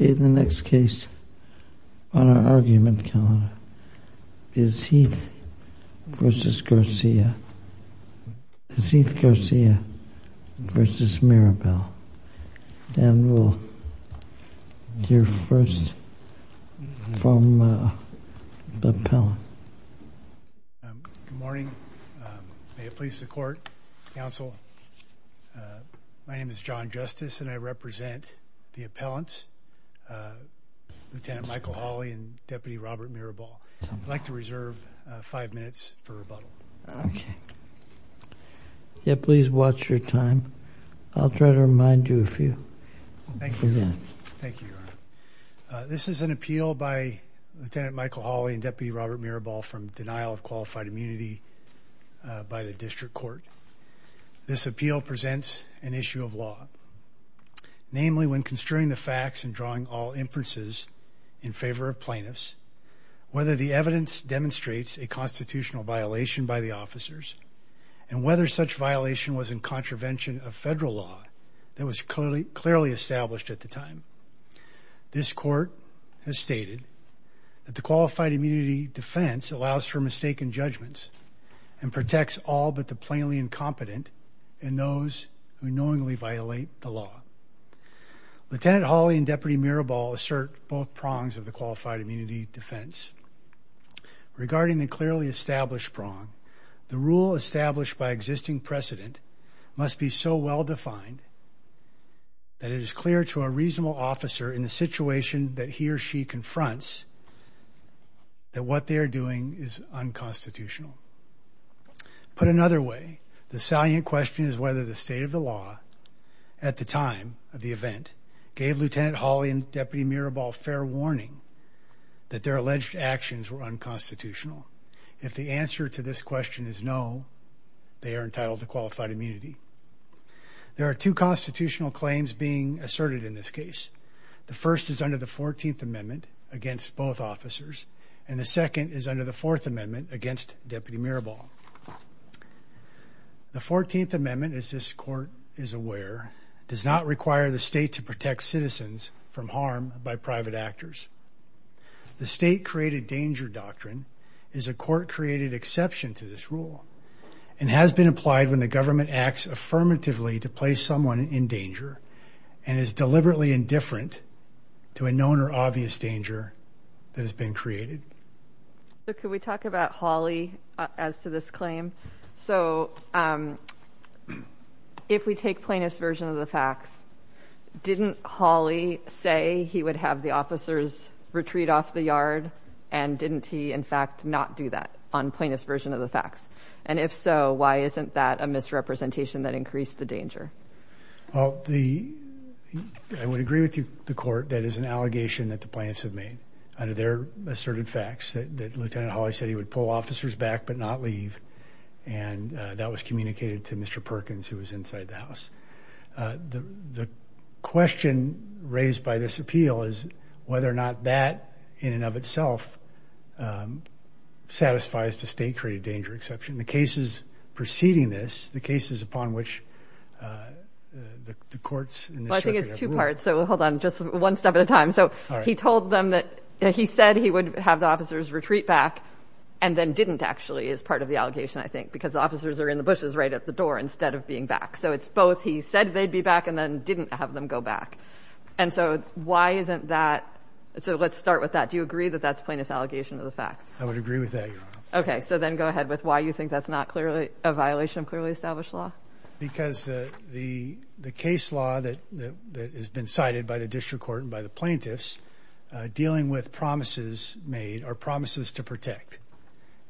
The next case on our argument calendar is Heath v. Garcia v. Mirabal. Dan will hear first from Bob Pellin. Good morning. May it please the court, counsel. My name is John Justice and I represent the appellants, Lieutenant Michael Hawley and Deputy Robert Mirabal. I'd like to reserve five minutes for rebuttal. Okay. Yeah, please watch your time. I'll try to remind you a few. Thank you. Thank you. This is an appeal by Lieutenant Michael Hawley and Deputy Robert Mirabal from denial of qualified immunity by the district court. This appeal presents an issue of law. Namely, when construing the facts and drawing all inferences in favor of plaintiffs, whether the evidence demonstrates a constitutional violation by the officers and whether such violation was in contravention of federal law that was clearly established at the time. This court has stated that the qualified immunity defense allows for mistaken judgments and protects all but the plainly incompetent and those who knowingly violate the law. Lieutenant Hawley and Deputy Mirabal assert both prongs of the qualified immunity defense regarding the clearly established prong. The rule established by existing precedent must be so well defined that it is clear to a reasonable officer in the situation that he or she confronts that what they're doing is unconstitutional. Put another way, the salient question is whether the state of the law at the time of the event gave Lieutenant Hawley and Deputy Mirabal fair warning that their alleged actions were unconstitutional. If the answer to this question is no, they are entitled to qualified immunity. There are two constitutional claims being asserted in this case. The first is under the 14th amendment against both officers and the second is under the fourth amendment against Deputy Mirabal. The 14th amendment, as this court is aware, does not require the state to protect citizens from harm by private actors. The state created danger doctrine is a court created exception to this rule and has been applied when the government acts affirmatively to place someone in danger and is deliberately indifferent to a known or obvious danger that has been created. Could we talk about Hawley as to this claim? So if we take plaintiff's version of the facts, didn't Hawley say he would have the officers retreat off the yard and didn't he in fact not do that on plaintiff's version of the facts? And if so, why isn't that a misrepresentation that increased the danger? Well, I would agree with the court that is an allegation that the plaintiffs have made under their asserted facts that Lieutenant Hawley said he would pull officers back but not leave. And that was communicated to Mr. Perkins who was inside the house. The question raised by this appeal is whether or not that in and of itself satisfies the state created danger exception. The cases preceding this, the cases upon which the courts in this circuit have ruled. So hold on just one step at a time. So he told them that he said he would have the officers retreat back and then didn't actually is part of the allegation, I think, because officers are in the bushes right at the door instead of being back. So it's both. He said they'd be back and then didn't have them go back. And so why isn't that? So let's start with that. Do you agree that that's plaintiff's allegation of the facts? I would agree with that. Okay, so then go ahead with why you think that's not clearly a violation of clearly established law? Because the case law that has been cited by the district court and by the plaintiffs dealing with promises made are promises to protect.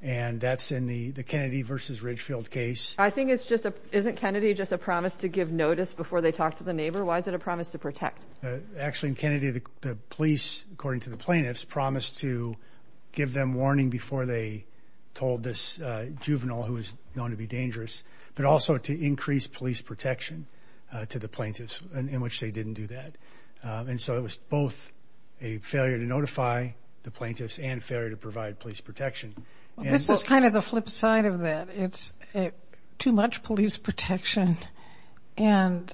And that's in the Kennedy versus Ridgefield case. I think it's just isn't Kennedy just a promise to give notice before they talk to the neighbor? Why is it a promise to protect? Actually, Kennedy, the police, according to the plaintiffs, promised to give them warning before they told this juvenile who is known to be dangerous, but also to increase police protection to the plaintiffs in which they didn't do that. And so it was both a failure to notify the plaintiffs and failure to provide police protection. This is kind of the flip side of that. It's too much police protection and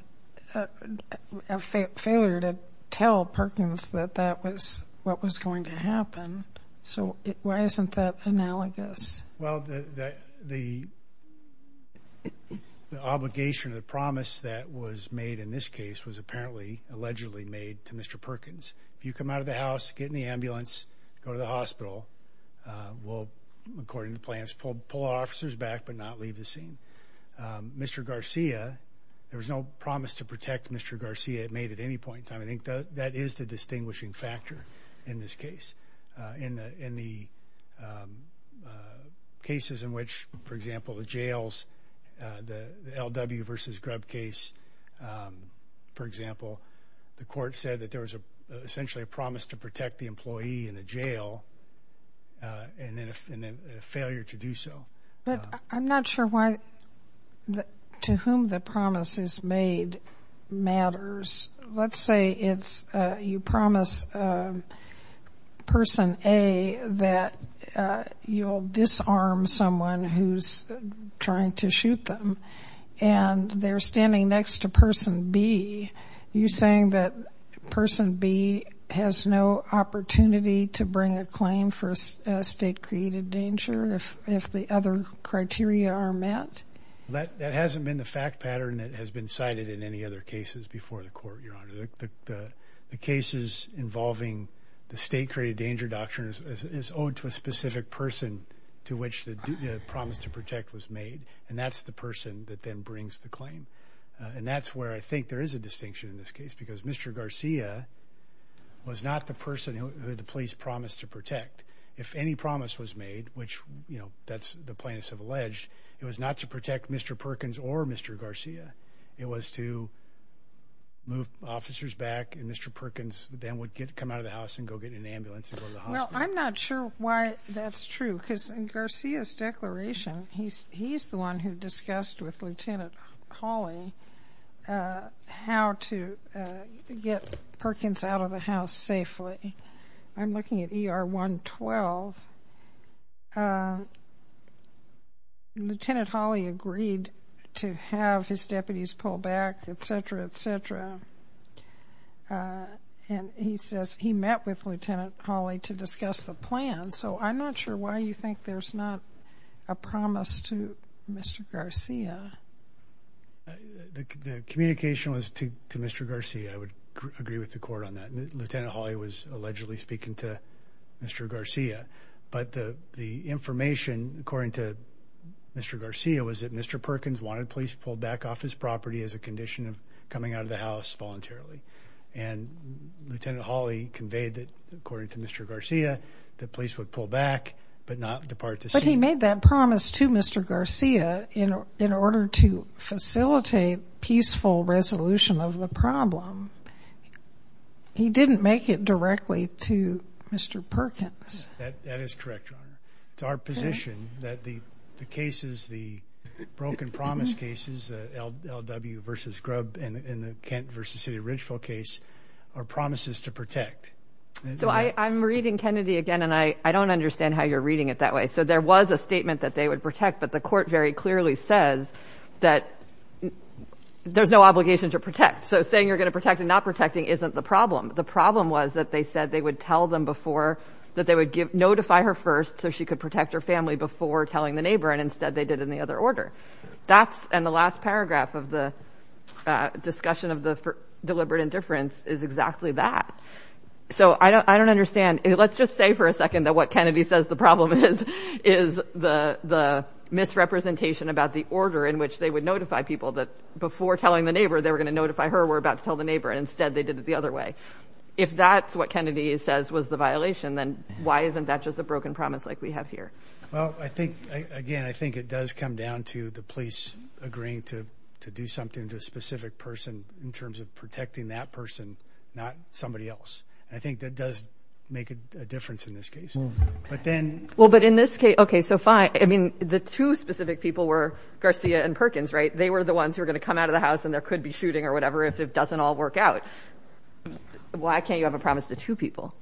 a failure to tell Perkins that that was what was going to happen. So why isn't that analogous? Well, the the the obligation of the promise that was made in this case was apparently allegedly made to Mr. Perkins. If you come out of the house, get in the ambulance, go to the hospital. Well, according to plans, pull officers back but not leave the scene. Mr. Garcia, there was no promise to protect Mr. Garcia made at any point in time. I think that is the distinguishing factor in this case in the in the cases in which, for example, the jails, the L.W. versus Grubb case, for example, the court said that there was essentially a promise to protect the employee in a jail and then a failure to do so. But I'm not sure why the to whom the promise is made matters. Let's say it's you promise person A that you'll disarm someone who's trying to shoot them and they're standing next to person B. You're saying that person B has no opportunity to bring a claim for a state created danger. If if the other criteria are met, that that hasn't been the fact pattern that has been cited in any other cases before the court, your honor. The cases involving the state created danger doctrine is owed to a specific person to which the promise to protect was made. And that's the person that then brings the claim. And that's where I think there is a distinction in this case, because Mr. Garcia was not the person who the police promised to protect. If any promise was made, which, you know, that's the plaintiffs have alleged it was not to protect Mr. Perkins or Mr. Garcia. It was to move officers back. And Mr. Perkins then would get come out of the house and go get an ambulance. Well, I'm not sure why that's true, because in Garcia's declaration, he's he's the one who discussed with Lieutenant Hawley how to get Perkins out of the house safely. I'm looking at ER 112. Lieutenant Hawley agreed to have his deputies pull back, et cetera, et cetera. And he says he met with Lieutenant Hawley to discuss the plan. So I'm not sure why you think there's not a promise to Mr. Garcia. The communication was to Mr. Garcia. I would agree with the court on that. Lieutenant Hawley was allegedly speaking to Mr. Garcia. But the the information, according to Mr. Garcia, was that Mr. Perkins wanted police pulled back off his property as a condition of coming out of the house voluntarily. And Lieutenant Hawley conveyed that, according to Mr. Garcia, the police would pull back but not depart the scene. But he made that promise to Mr. Garcia in order to facilitate peaceful resolution of the problem. He didn't make it directly to Mr. Perkins. That is correct. It's our position that the cases, the broken promise cases, L.W. versus Grubb and the Kent versus City Ridgeville case are promises to protect. So I'm reading Kennedy again, and I don't understand how you're reading it that way. So there was a statement that they would protect. But the court very clearly says that there's no obligation to protect. So saying you're going to protect and not protecting isn't the problem. The problem was that they said they would tell them before that they would notify her first so she could protect her family before telling the neighbor. And instead they did in the other order. That's and the last paragraph of the discussion of the deliberate indifference is exactly that. So I don't I don't understand. Let's just say for a second that what Kennedy says the problem is, is the the misrepresentation about the order in which they would notify people that before telling the neighbor they were going to notify her. We're about to tell the neighbor. And instead they did it the other way. If that's what Kennedy says was the violation, then why isn't that just a broken promise like we have here? Well, I think again, I think it does come down to the police agreeing to to do something to a specific person in terms of protecting that person, not somebody else. I think that does make a difference in this case. But then. Well, but in this case. OK, so fine. I mean, the two specific people were Garcia and Perkins, right? They were the ones who were going to come out of the house and there could be shooting or whatever if it doesn't all work out. Why can't you have a promise to two people?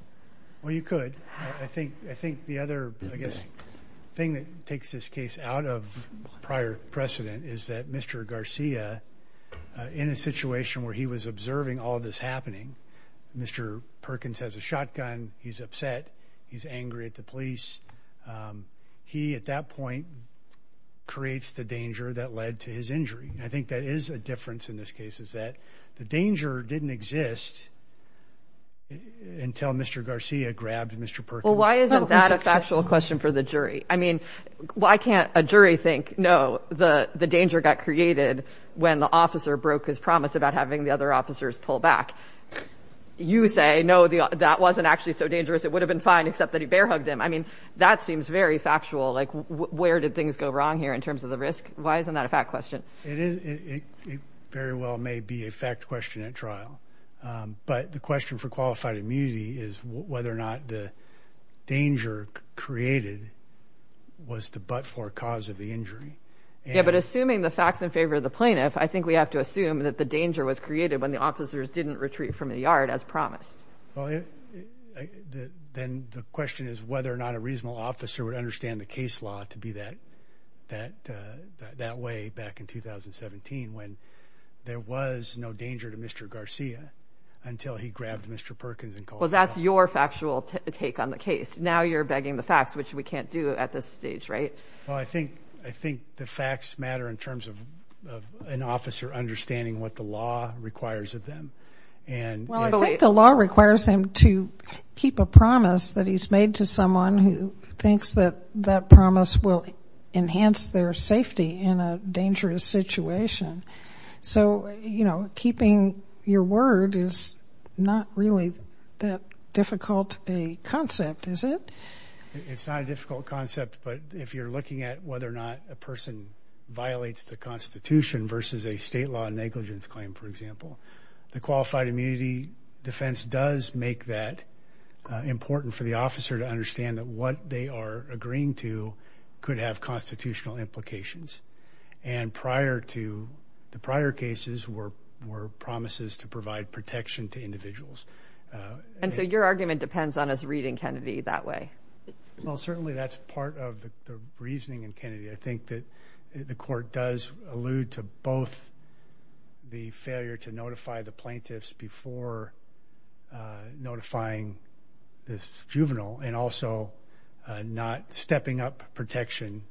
Well, you could. I think I think the other thing that takes this case out of prior precedent is that Mr. Garcia in a situation where he was observing all of this happening. Mr. Perkins has a shotgun. He's upset. He's angry at the police. He at that point creates the danger that led to his injury. I think that is a difference in this case is that the danger didn't exist until Mr. Garcia grabbed Mr. Perkins. Well, why isn't that a factual question for the jury? I mean, why can't a jury think, no, the the danger got created when the officer broke his promise about having the other officers pull back? You say, no, that wasn't actually so dangerous. It would have been fine, except that he bear hugged him. I mean, that seems very factual. Like, where did things go wrong here in terms of the risk? Why isn't that a fact question? It very well may be a fact question at trial. But the question for qualified immunity is whether or not the danger created was the but for cause of the injury. Yeah, but assuming the facts in favor of the plaintiff, I think we have to assume that the danger was created when the officers didn't retreat from the yard as promised. Then the question is whether or not a reasonable officer would understand the case law to be that that that way back in 2017 when there was no danger to Mr. Garcia until he grabbed Mr. Perkins. Well, that's your factual take on the case. Now you're begging the facts, which we can't do at this stage, right? Well, I think the facts matter in terms of an officer understanding what the law requires of them. Well, I think the law requires him to keep a promise that he's made to someone who thinks that that promise will enhance their safety in a dangerous situation. So, you know, keeping your word is not really that difficult a concept, is it? It's not a difficult concept. But if you're looking at whether or not a person violates the Constitution versus a state law negligence claim, for example, the qualified immunity defense does make that important for the officer to understand that what they are agreeing to could have constitutional implications. And prior to the prior cases were were promises to provide protection to individuals. And so your argument depends on us reading Kennedy that way. Well, certainly that's part of the reasoning in Kennedy. I think that the court does allude to both the failure to notify the plaintiffs before notifying this juvenile and also not stepping up protection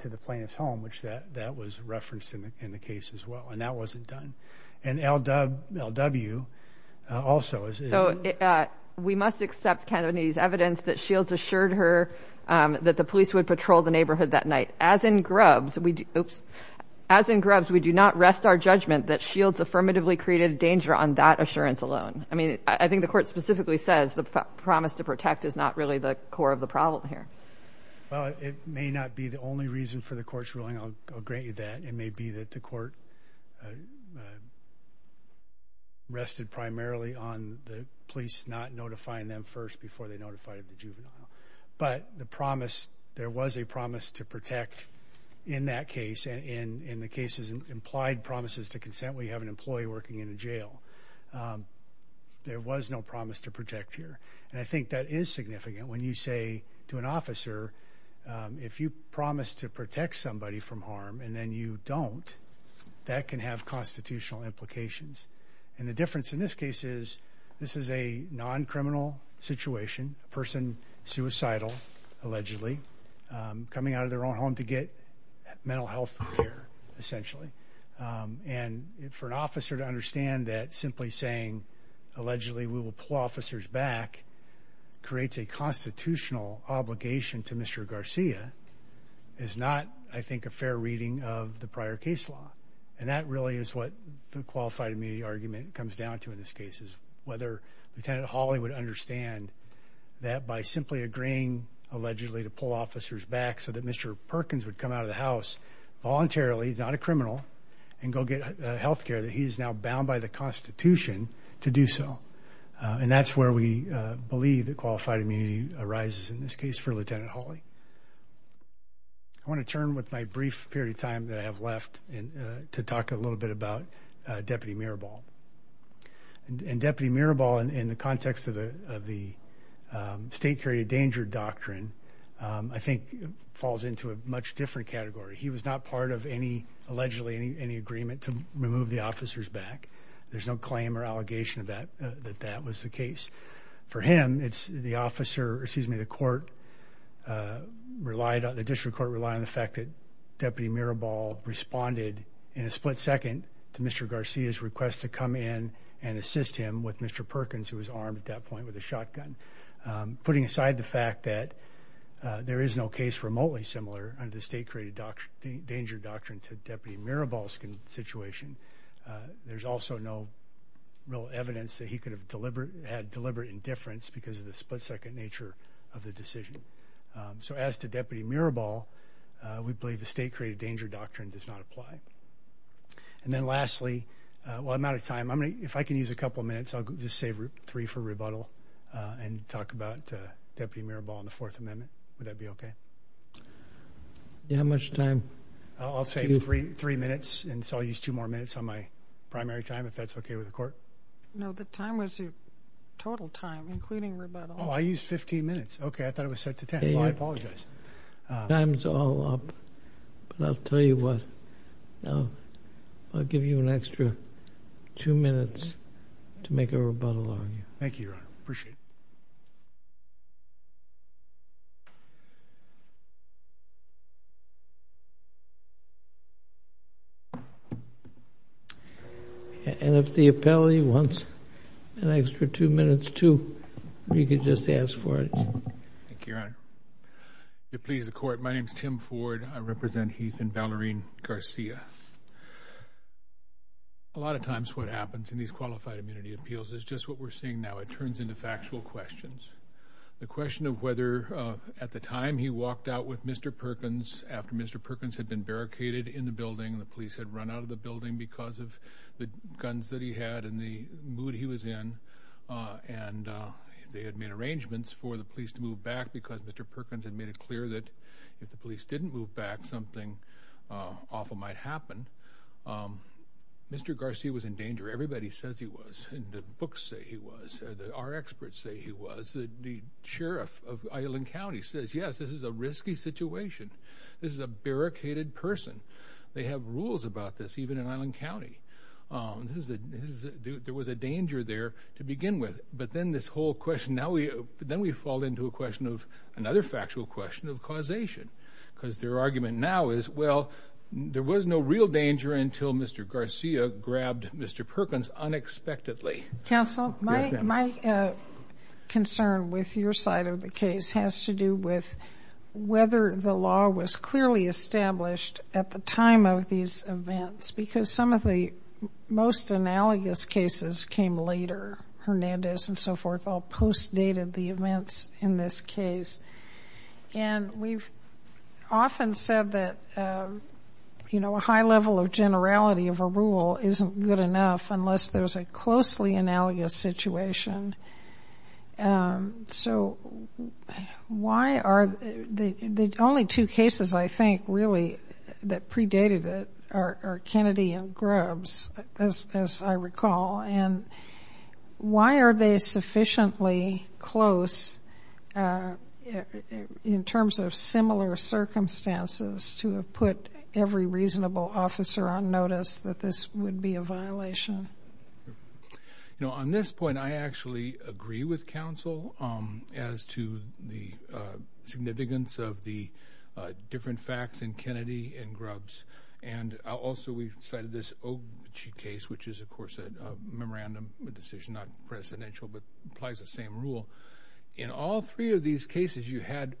to the plaintiff's home, which that that was referenced in the case as well. And that wasn't done. And L.W. also. So we must accept Kennedy's evidence that Shields assured her that the police would patrol the neighborhood that night, as in Grubbs. Oops. As in Grubbs, we do not rest our judgment that Shields affirmatively created a danger on that assurance alone. I mean, I think the court specifically says the promise to protect is not really the core of the problem here. It may not be the only reason for the court's ruling. I'll grant you that. It may be that the court rested primarily on the police not notifying them first before they notified the juvenile. But the promise there was a promise to protect in that case and in the cases and implied promises to consent. We have an employee working in a jail. There was no promise to protect here. And I think that is significant when you say to an officer, if you promise to protect somebody from harm and then you don't, that can have constitutional implications. And the difference in this case is this is a non-criminal situation. Person suicidal, allegedly coming out of their own home to get mental health care, essentially. And for an officer to understand that simply saying allegedly we will pull officers back creates a constitutional obligation to Mr. Garcia is not, I think, a fair reading of the prior case law. And that really is what the qualified immunity argument comes down to in this case is whether Lieutenant Hawley would understand that by simply agreeing allegedly to pull officers back so that Mr. Perkins would come out of the house voluntarily, not a criminal, and go get health care that he is now bound by the Constitution to do so. And that's where we believe that qualified immunity arises in this case for Lieutenant Hawley. I want to turn with my brief period of time that I have left to talk a little bit about Deputy Mirabal. And Deputy Mirabal, in the context of the state carried a danger doctrine, I think falls into a much different category. He was not part of any, allegedly, any agreement to remove the officers back. There's no claim or allegation that that was the case. For him, it's the officer, excuse me, the court relied on, the district court relied on the fact that Deputy Mirabal responded in a split second to Mr. Garcia's request to come in and assist him with Mr. Perkins, who was armed at that point with a shotgun. Putting aside the fact that there is no case remotely similar under the state created danger doctrine to Deputy Mirabal's situation, there's also no real evidence that he could have had deliberate indifference because of the split second nature of the decision. So as to Deputy Mirabal, we believe the state created danger doctrine does not apply. And then lastly, well, I'm out of time. If I can use a couple minutes, I'll just save three for rebuttal and talk about Deputy Mirabal and the Fourth Amendment. Would that be okay? How much time? I'll save three minutes, and so I'll use two more minutes on my primary time, if that's okay with the court. No, the time was your total time, including rebuttal. Oh, I used 15 minutes. Okay, I thought it was set to 10. Well, I apologize. Time's all up, but I'll tell you what. I'll give you an extra two minutes to make a rebuttal argument. Thank you, Your Honor. Appreciate it. And if the appellee wants an extra two minutes, too, you can just ask for it. Thank you, Your Honor. If it pleases the court, my name is Tim Ford. I represent Heath and Valerian Garcia. A lot of times what happens in these qualified immunity appeals is just what we're seeing now. It turns into factual questions. The question of whether at the time he walked out with Mr. Perkins, after Mr. Perkins had been barricaded in the building, the police had run out of the building because of the guns that he had and the mood he was in, and they had made arrangements for the police to move back because Mr. Perkins had made it clear that if the police didn't move back, something awful might happen. Mr. Garcia was in danger. Everybody says he was. The books say he was. Our experts say he was. The sheriff of Island County says, yes, this is a risky situation. This is a barricaded person. They have rules about this, even in Island County. There was a danger there to begin with. But then this whole question, now we fall into another factual question of causation because their argument now is, well, there was no real danger until Mr. Garcia grabbed Mr. Perkins unexpectedly. Counsel, my concern with your side of the case has to do with whether the law was clearly established at the time of these events because some of the most analogous cases came later. Hernandez and so forth all post-dated the events in this case. And we've often said that a high level of generality of a rule isn't good enough unless there's a closely analogous situation. So why are the only two cases, I think, really that predated it are Kennedy and Grubbs, as I recall, and why are they sufficiently close in terms of similar circumstances to have put every reasonable officer on notice that this would be a violation? You know, on this point, I actually agree with counsel as to the significance of the different facts in Kennedy and Grubbs. And also we've cited this Ogie case, which is, of course, a memorandum decision, not presidential, but applies the same rule. In all three of these cases, you had,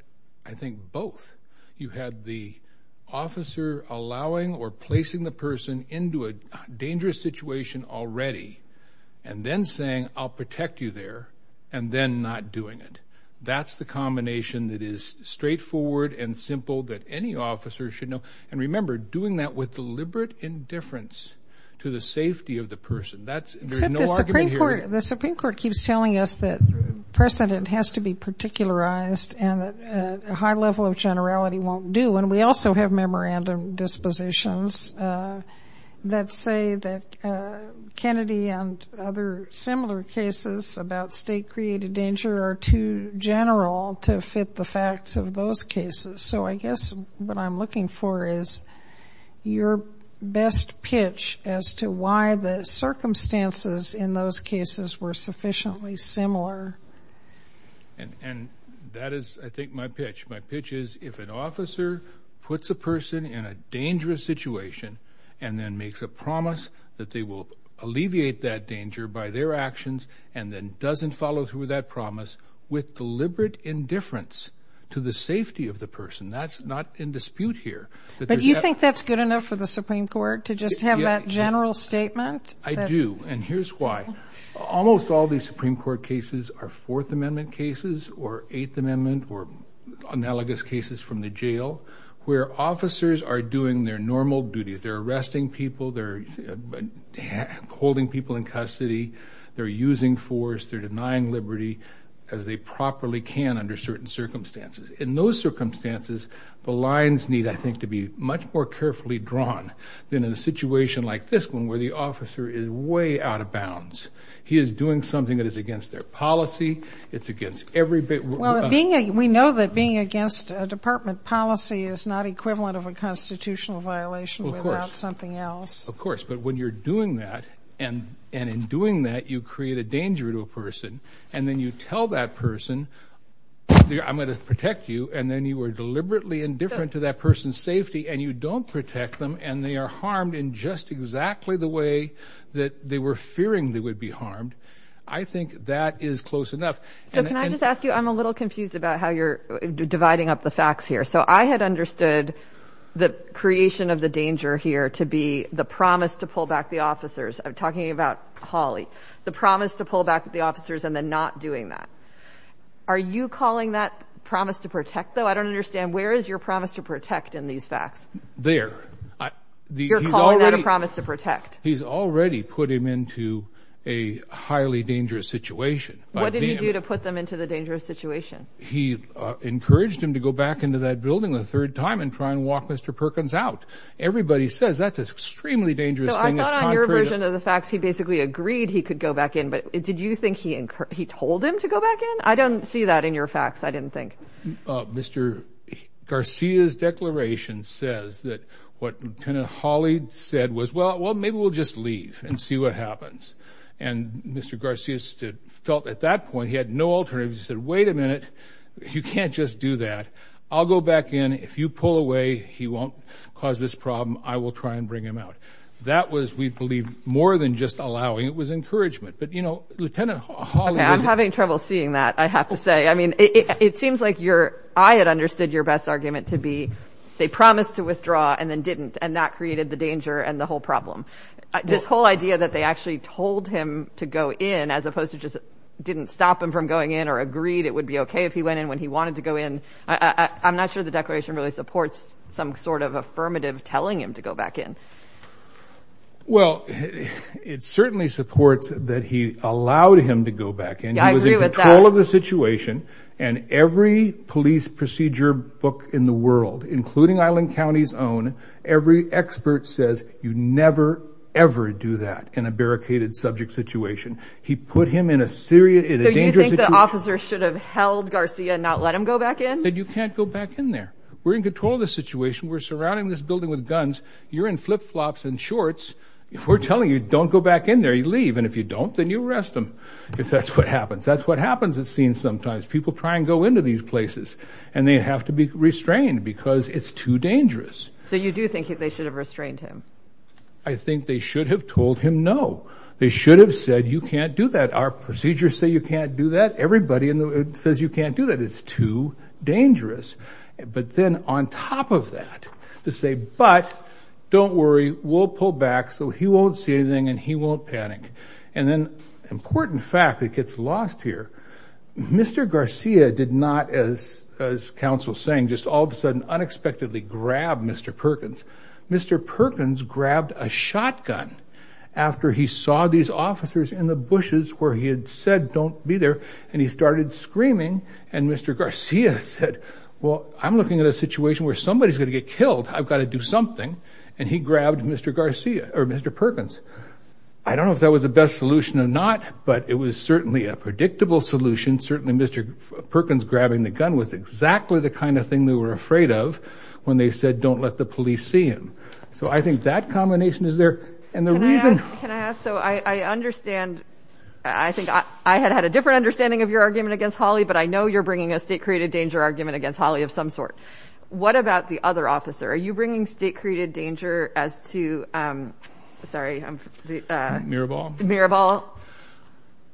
I think, both. You had the officer allowing or placing the person into a dangerous situation already and then saying, I'll protect you there, and then not doing it. That's the combination that is straightforward and simple that any officer should know. And remember, doing that with deliberate indifference to the safety of the person. There's no argument here. Well, the Supreme Court keeps telling us that precedent has to be particularized and that a high level of generality won't do. And we also have memorandum dispositions that say that Kennedy and other similar cases about state-created danger are too general to fit the facts of those cases. So I guess what I'm looking for is your best pitch as to why the circumstances in those cases were sufficiently similar. And that is, I think, my pitch. My pitch is if an officer puts a person in a dangerous situation and then makes a promise that they will alleviate that danger by their actions and then doesn't follow through with that promise with deliberate indifference to the safety of the person, that's not in dispute here. But do you think that's good enough for the Supreme Court to just have that general statement? I do. And here's why. Almost all these Supreme Court cases are Fourth Amendment cases or Eighth Amendment or analogous cases from the jail where officers are doing their normal duties. They're arresting people. They're holding people in custody. They're using force. They're denying liberty as they properly can under certain circumstances. In those circumstances, the lines need, I think, to be much more carefully drawn than in a situation like this one where the officer is way out of bounds. He is doing something that is against their policy. It's against every bit of them. Well, we know that being against a department policy is not equivalent of a constitutional violation without something else. Of course. But when you're doing that, and in doing that you create a danger to a person, and then you tell that person, I'm going to protect you, and then you are deliberately indifferent to that person's safety and you don't protect them and they are harmed in just exactly the way that they were fearing they would be harmed, I think that is close enough. So can I just ask you, I'm a little confused about how you're dividing up the facts here. So I had understood the creation of the danger here to be the promise to pull back the officers. I'm talking about Hawley. The promise to pull back the officers and then not doing that. Are you calling that promise to protect, though? I don't understand. Where is your promise to protect in these facts? There. You're calling that a promise to protect? He's already put him into a highly dangerous situation. What did he do to put them into the dangerous situation? He encouraged him to go back into that building a third time and try and walk Mr. Perkins out. Everybody says that's an extremely dangerous thing. I thought on your version of the facts he basically agreed he could go back in, but did you think he told him to go back in? I don't see that in your facts, I didn't think. Mr. Garcia's declaration says that what Lieutenant Hawley said was, well, maybe we'll just leave and see what happens. And Mr. Garcia felt at that point he had no alternative. He said, wait a minute, you can't just do that. I'll go back in. If you pull away, he won't cause this problem. I will try and bring him out. That was, we believe, more than just allowing. It was encouragement. But, you know, Lieutenant Hawley was. I'm having trouble seeing that, I have to say. I mean, it seems like I had understood your best argument to be they promised to withdraw and then didn't, and that created the danger and the whole problem. This whole idea that they actually told him to go in as opposed to just didn't stop him from going in or agreed it would be okay if he went in when he wanted to go in. I'm not sure the declaration really supports some sort of affirmative telling him to go back in. Well, it certainly supports that he allowed him to go back in. He was in control of the situation. And every police procedure book in the world, including Island County's own, every expert says you never, ever do that in a barricaded subject situation. He put him in a dangerous situation. So you think the officer should have held Garcia and not let him go back in? He said you can't go back in there. We're in control of the situation. We're surrounding this building with guns. You're in flip-flops and shorts. If we're telling you don't go back in there, you leave. And if you don't, then you arrest him because that's what happens. That's what happens at scenes sometimes. People try and go into these places, and they have to be restrained because it's too dangerous. So you do think they should have restrained him? I think they should have told him no. They should have said you can't do that. Our procedures say you can't do that. Everybody says you can't do that. It's too dangerous. But then on top of that, to say, but don't worry, we'll pull back so he won't see anything and he won't panic. And then an important fact that gets lost here, Mr. Garcia did not, as counsel was saying, just all of a sudden unexpectedly grab Mr. Perkins. Mr. Perkins grabbed a shotgun after he saw these officers in the bushes where he had said don't be there, and he started screaming. And Mr. Garcia said, well, I'm looking at a situation where somebody's going to get killed. I've got to do something. And he grabbed Mr. Perkins. I don't know if that was the best solution or not, but it was certainly a predictable solution. Certainly Mr. Perkins grabbing the gun was exactly the kind of thing they were afraid of when they said don't let the police see him. So I think that combination is there. And the reason. Can I ask? So I understand. I think I had had a different understanding of your argument against Holly, but I know you're bringing a state-created danger argument against Holly of some sort. What about the other officer? Are you bringing state-created danger as to, sorry. Mirabal? Mirabal.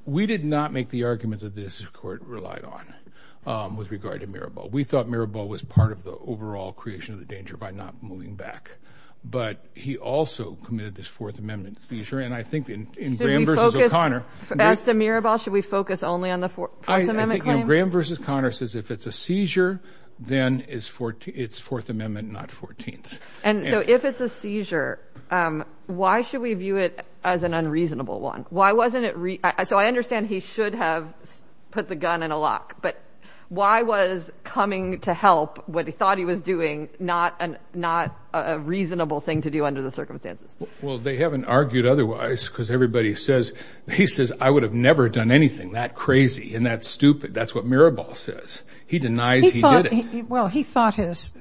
We did not make the argument that this court relied on with regard to Mirabal. We thought Mirabal was part of the overall creation of the danger by not moving back. But he also committed this Fourth Amendment seizure. And I think in Graham versus O'Connor. As to Mirabal, should we focus only on the Fourth Amendment claim? Graham versus O'Connor says if it's a seizure, then it's Fourth Amendment, not 14th. And so if it's a seizure, why should we view it as an unreasonable one? So I understand he should have put the gun in a lock. But why was coming to help what he thought he was doing not a reasonable thing to do under the circumstances? Well, they haven't argued otherwise because everybody says. He says, I would have never done anything that crazy and that stupid. That's what Mirabal says. He denies he did it. Well, he thought his.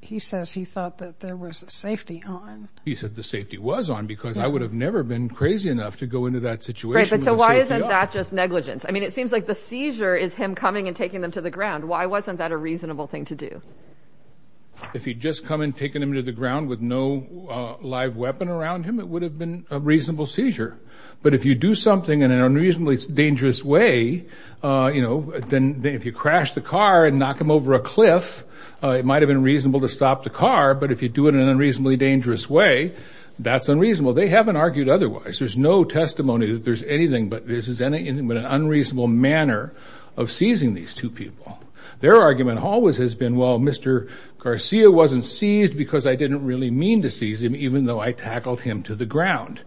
He says he thought that there was a safety on. He said the safety was on because I would have never been crazy enough to go into that situation. So why isn't that just negligence? I mean, it seems like the seizure is him coming and taking them to the ground. Why wasn't that a reasonable thing to do? If he'd just come and taken him to the ground with no live weapon around him, it would have been a reasonable seizure. But if you do something in an unreasonably dangerous way, you know, then if you crash the car and knock him over a cliff, it might have been reasonable to stop the car. But if you do it in an unreasonably dangerous way, that's unreasonable. They haven't argued otherwise. There's no testimony that there's anything, but this is an unreasonable manner of seizing these two people. Their argument always has been, well, Mr. Garcia wasn't seized because I didn't really mean to seize him, even though I tackled him to the ground.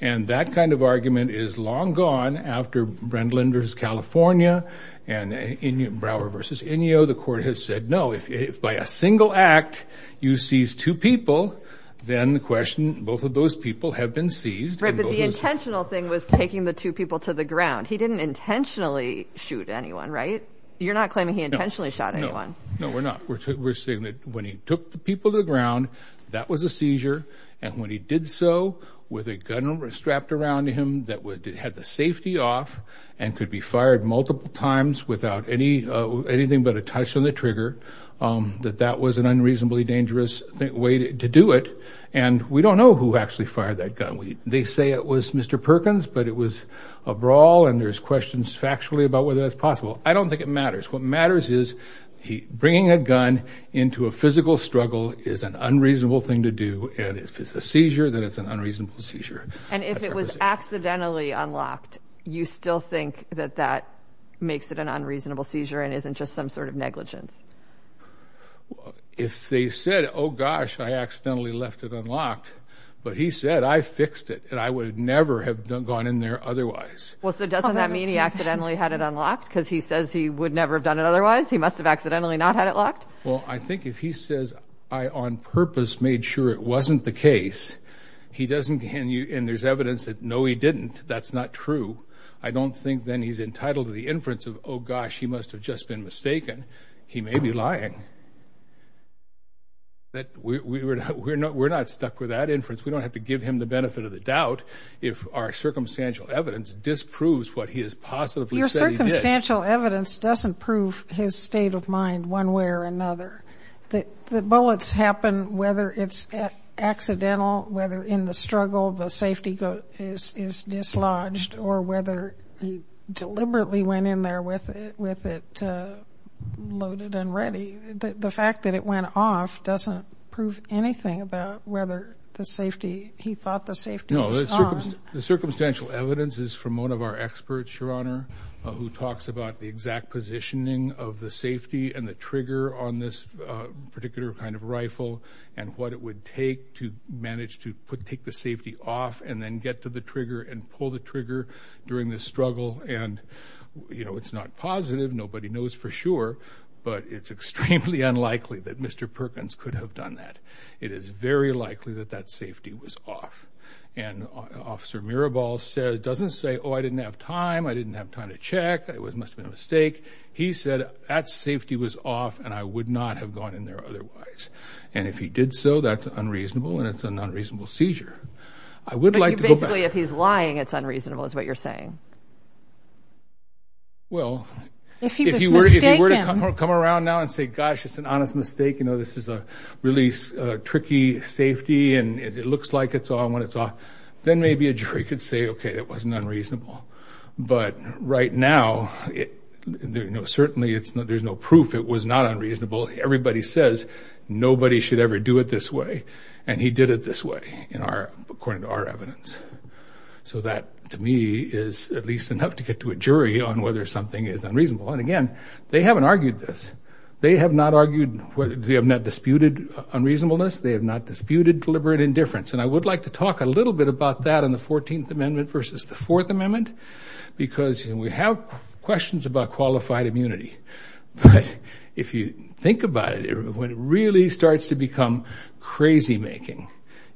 And that kind of argument is long gone. After Brendlin versus California and Brower versus Ineo, the court has said, no, if by a single act you seize two people, then the question, both of those people have been seized. But the intentional thing was taking the two people to the ground. He didn't intentionally shoot anyone, right? You're not claiming he intentionally shot anyone. No, we're not. We're saying that when he took the people to the ground, that was a seizure. And when he did so with a gun strapped around him that had the safety off and could be fired multiple times without anything but a touch on the trigger, that that was an unreasonably dangerous way to do it. And we don't know who actually fired that gun. They say it was Mr. Perkins, but it was a brawl, and there's questions factually about whether that's possible. I don't think it matters. What matters is bringing a gun into a physical struggle is an unreasonable thing to do. And if it's a seizure, then it's an unreasonable seizure. And if it was accidentally unlocked, you still think that that makes it an unreasonable seizure and isn't just some sort of negligence? If they said, oh, gosh, I accidentally left it unlocked, but he said, I fixed it, and I would never have gone in there otherwise. Well, so doesn't that mean he accidentally had it unlocked because he says he would never have done it otherwise? He must have accidentally not had it locked. Well, I think if he says, I on purpose made sure it wasn't the case, and there's evidence that, no, he didn't, that's not true, I don't think then he's entitled to the inference of, oh, gosh, he must have just been mistaken. He may be lying. We're not stuck with that inference. We don't have to give him the benefit of the doubt if our circumstantial evidence disproves what he has possibly said he did. Your circumstantial evidence doesn't prove his state of mind one way or another. The bullets happen whether it's accidental, whether in the struggle the safety is dislodged, or whether he deliberately went in there with it loaded and ready. The fact that it went off doesn't prove anything about whether the safety, he thought the safety was on. No, the circumstantial evidence is from one of our experts, Your Honor, who talks about the exact positioning of the safety and the trigger on this particular kind of rifle and what it would take to manage to take the safety off and then get to the trigger and pull the trigger during this struggle. And, you know, it's not positive. Nobody knows for sure, but it's extremely unlikely that Mr. Perkins could have done that. It is very likely that that safety was off. And Officer Mirabal doesn't say, oh, I didn't have time, I didn't have time to check, it must have been a mistake. He said that safety was off and I would not have gone in there otherwise. And if he did so, that's unreasonable and it's an unreasonable seizure. But basically if he's lying, it's unreasonable is what you're saying. Well, if he were to come around now and say, gosh, it's an honest mistake, you know, this is a really tricky safety and it looks like it's on when it's off, then maybe a jury could say, okay, it wasn't unreasonable. But right now, certainly there's no proof it was not unreasonable. Everybody says nobody should ever do it this way and he did it this way according to our evidence. So that, to me, is at least enough to get to a jury on whether something is unreasonable. And, again, they haven't argued this. They have not argued, they have not disputed unreasonableness. They have not disputed deliberate indifference. And I would like to talk a little bit about that in the 14th Amendment versus the 4th Amendment because we have questions about qualified immunity. But if you think about it, what really starts to become crazy making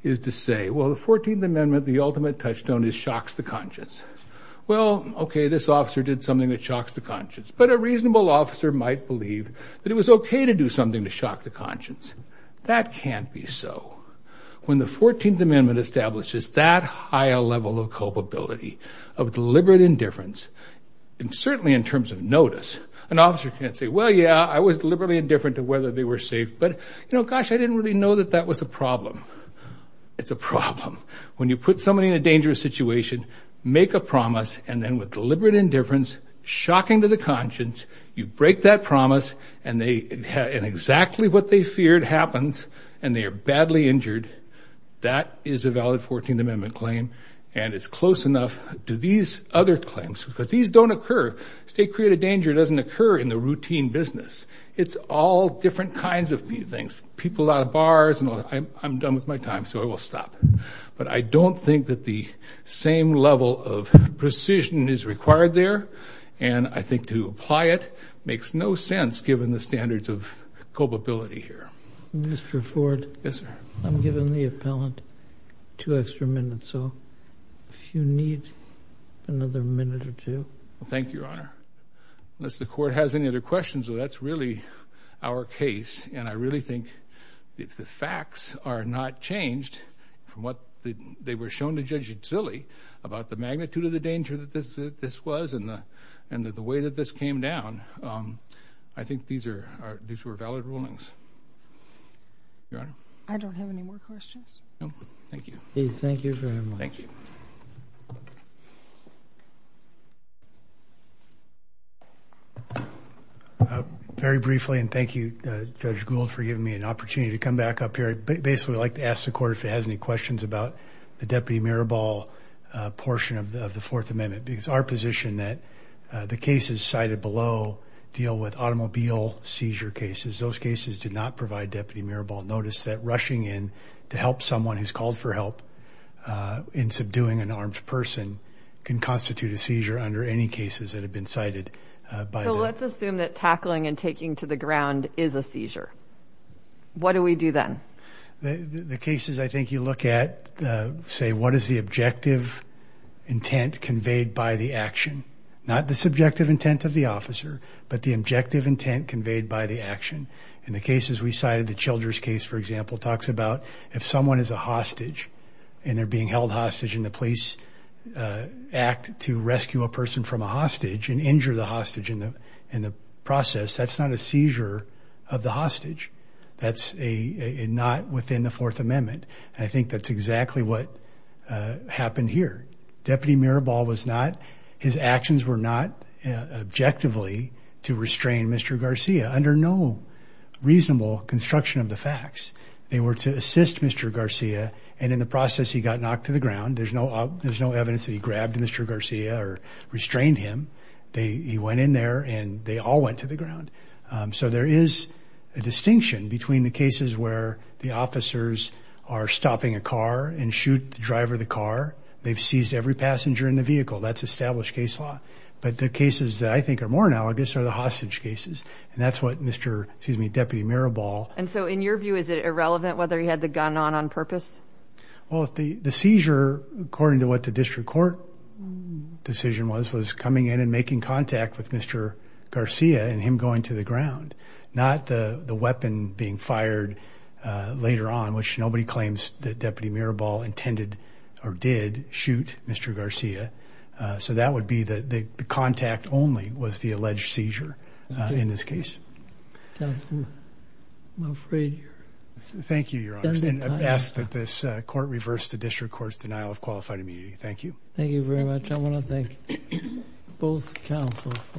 is to say, well, the 14th Amendment, the ultimate touchstone is shocks the conscience. Well, okay, this officer did something that shocks the conscience. But a reasonable officer might believe that it was okay to do something to shock the conscience. That can't be so. When the 14th Amendment establishes that high a level of culpability, of deliberate indifference, and certainly in terms of notice, an officer can't say, well, yeah, I was deliberately indifferent to whether they were safe, but, you know, gosh, I didn't really know that that was a problem. It's a problem. When you put somebody in a dangerous situation, make a promise, and then with deliberate indifference, shocking to the conscience, you break that promise, and exactly what they feared happens, and they are badly injured, that is a valid 14th Amendment claim, and it's close enough to these other claims because these don't occur. State-created danger doesn't occur in the routine business. It's all different kinds of things, people out of bars, and I'm done with my time, so I will stop. But I don't think that the same level of precision is required there, and I think to apply it makes no sense given the standards of culpability here. Mr. Ford? Yes, sir. I'm giving the appellant two extra minutes, so if you need another minute or two. Thank you, Your Honor. Unless the Court has any other questions, that's really our case, and I really think if the facts are not changed from what they were shown to Judge Uzzelli about the magnitude of the danger that this was and the way that this came down, I think these were valid rulings. Your Honor? I don't have any more questions. No? Thank you. Thank you very much. Thank you. Thank you. Very briefly, and thank you, Judge Gould, for giving me an opportunity to come back up here, I'd basically like to ask the Court if it has any questions about the Deputy Mirabal portion of the Fourth Amendment because our position that the cases cited below deal with automobile seizure cases. Those cases did not provide Deputy Mirabal. Notice that rushing in to help someone who's called for help in subduing an armed person can constitute a seizure under any cases that have been cited. So let's assume that tackling and taking to the ground is a seizure. What do we do then? The cases I think you look at say, what is the objective intent conveyed by the action? Not the subjective intent of the officer, but the objective intent conveyed by the action. In the cases we cited, the Childress case, for example, talks about if someone is a hostage and they're being held hostage and the police act to rescue a person from a hostage and injure the hostage in the process, that's not a seizure of the hostage. That's not within the Fourth Amendment. I think that's exactly what happened here. Deputy Mirabal was not, his actions were not objectively to restrain Mr. Garcia under no reasonable construction of the facts. They were to assist Mr. Garcia and in the process he got knocked to the ground. There's no evidence that he grabbed Mr. Garcia or restrained him. He went in there and they all went to the ground. So there is a distinction between the cases where the officers are stopping a car and shoot the driver of the car. They've seized every passenger in the vehicle. That's established case law. But the cases that I think are more analogous are the hostage cases, and that's what Deputy Mirabal... And so in your view, is it irrelevant whether he had the gun on on purpose? Well, the seizure, according to what the district court decision was, was coming in and making contact with Mr. Garcia and him going to the ground, not the weapon being fired later on, which nobody claims that Deputy Mirabal intended or did shoot Mr. Garcia. So that would be that the contact only was the alleged seizure in this case. I'm afraid... Thank you, Your Honor. I ask that this court reverse the district court's denial of qualified immunity. Thank you. Thank you very much. I want to thank both counsel for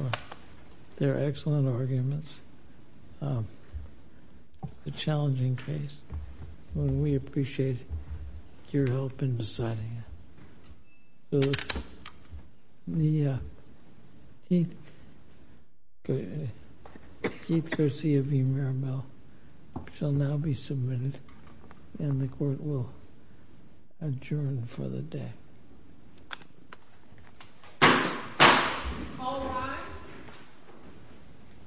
their excellent arguments. It's a challenging case, and we appreciate your help in deciding it. The Keith Garcia v. Mirabal shall now be submitted, and the court will adjourn for the day. All rise.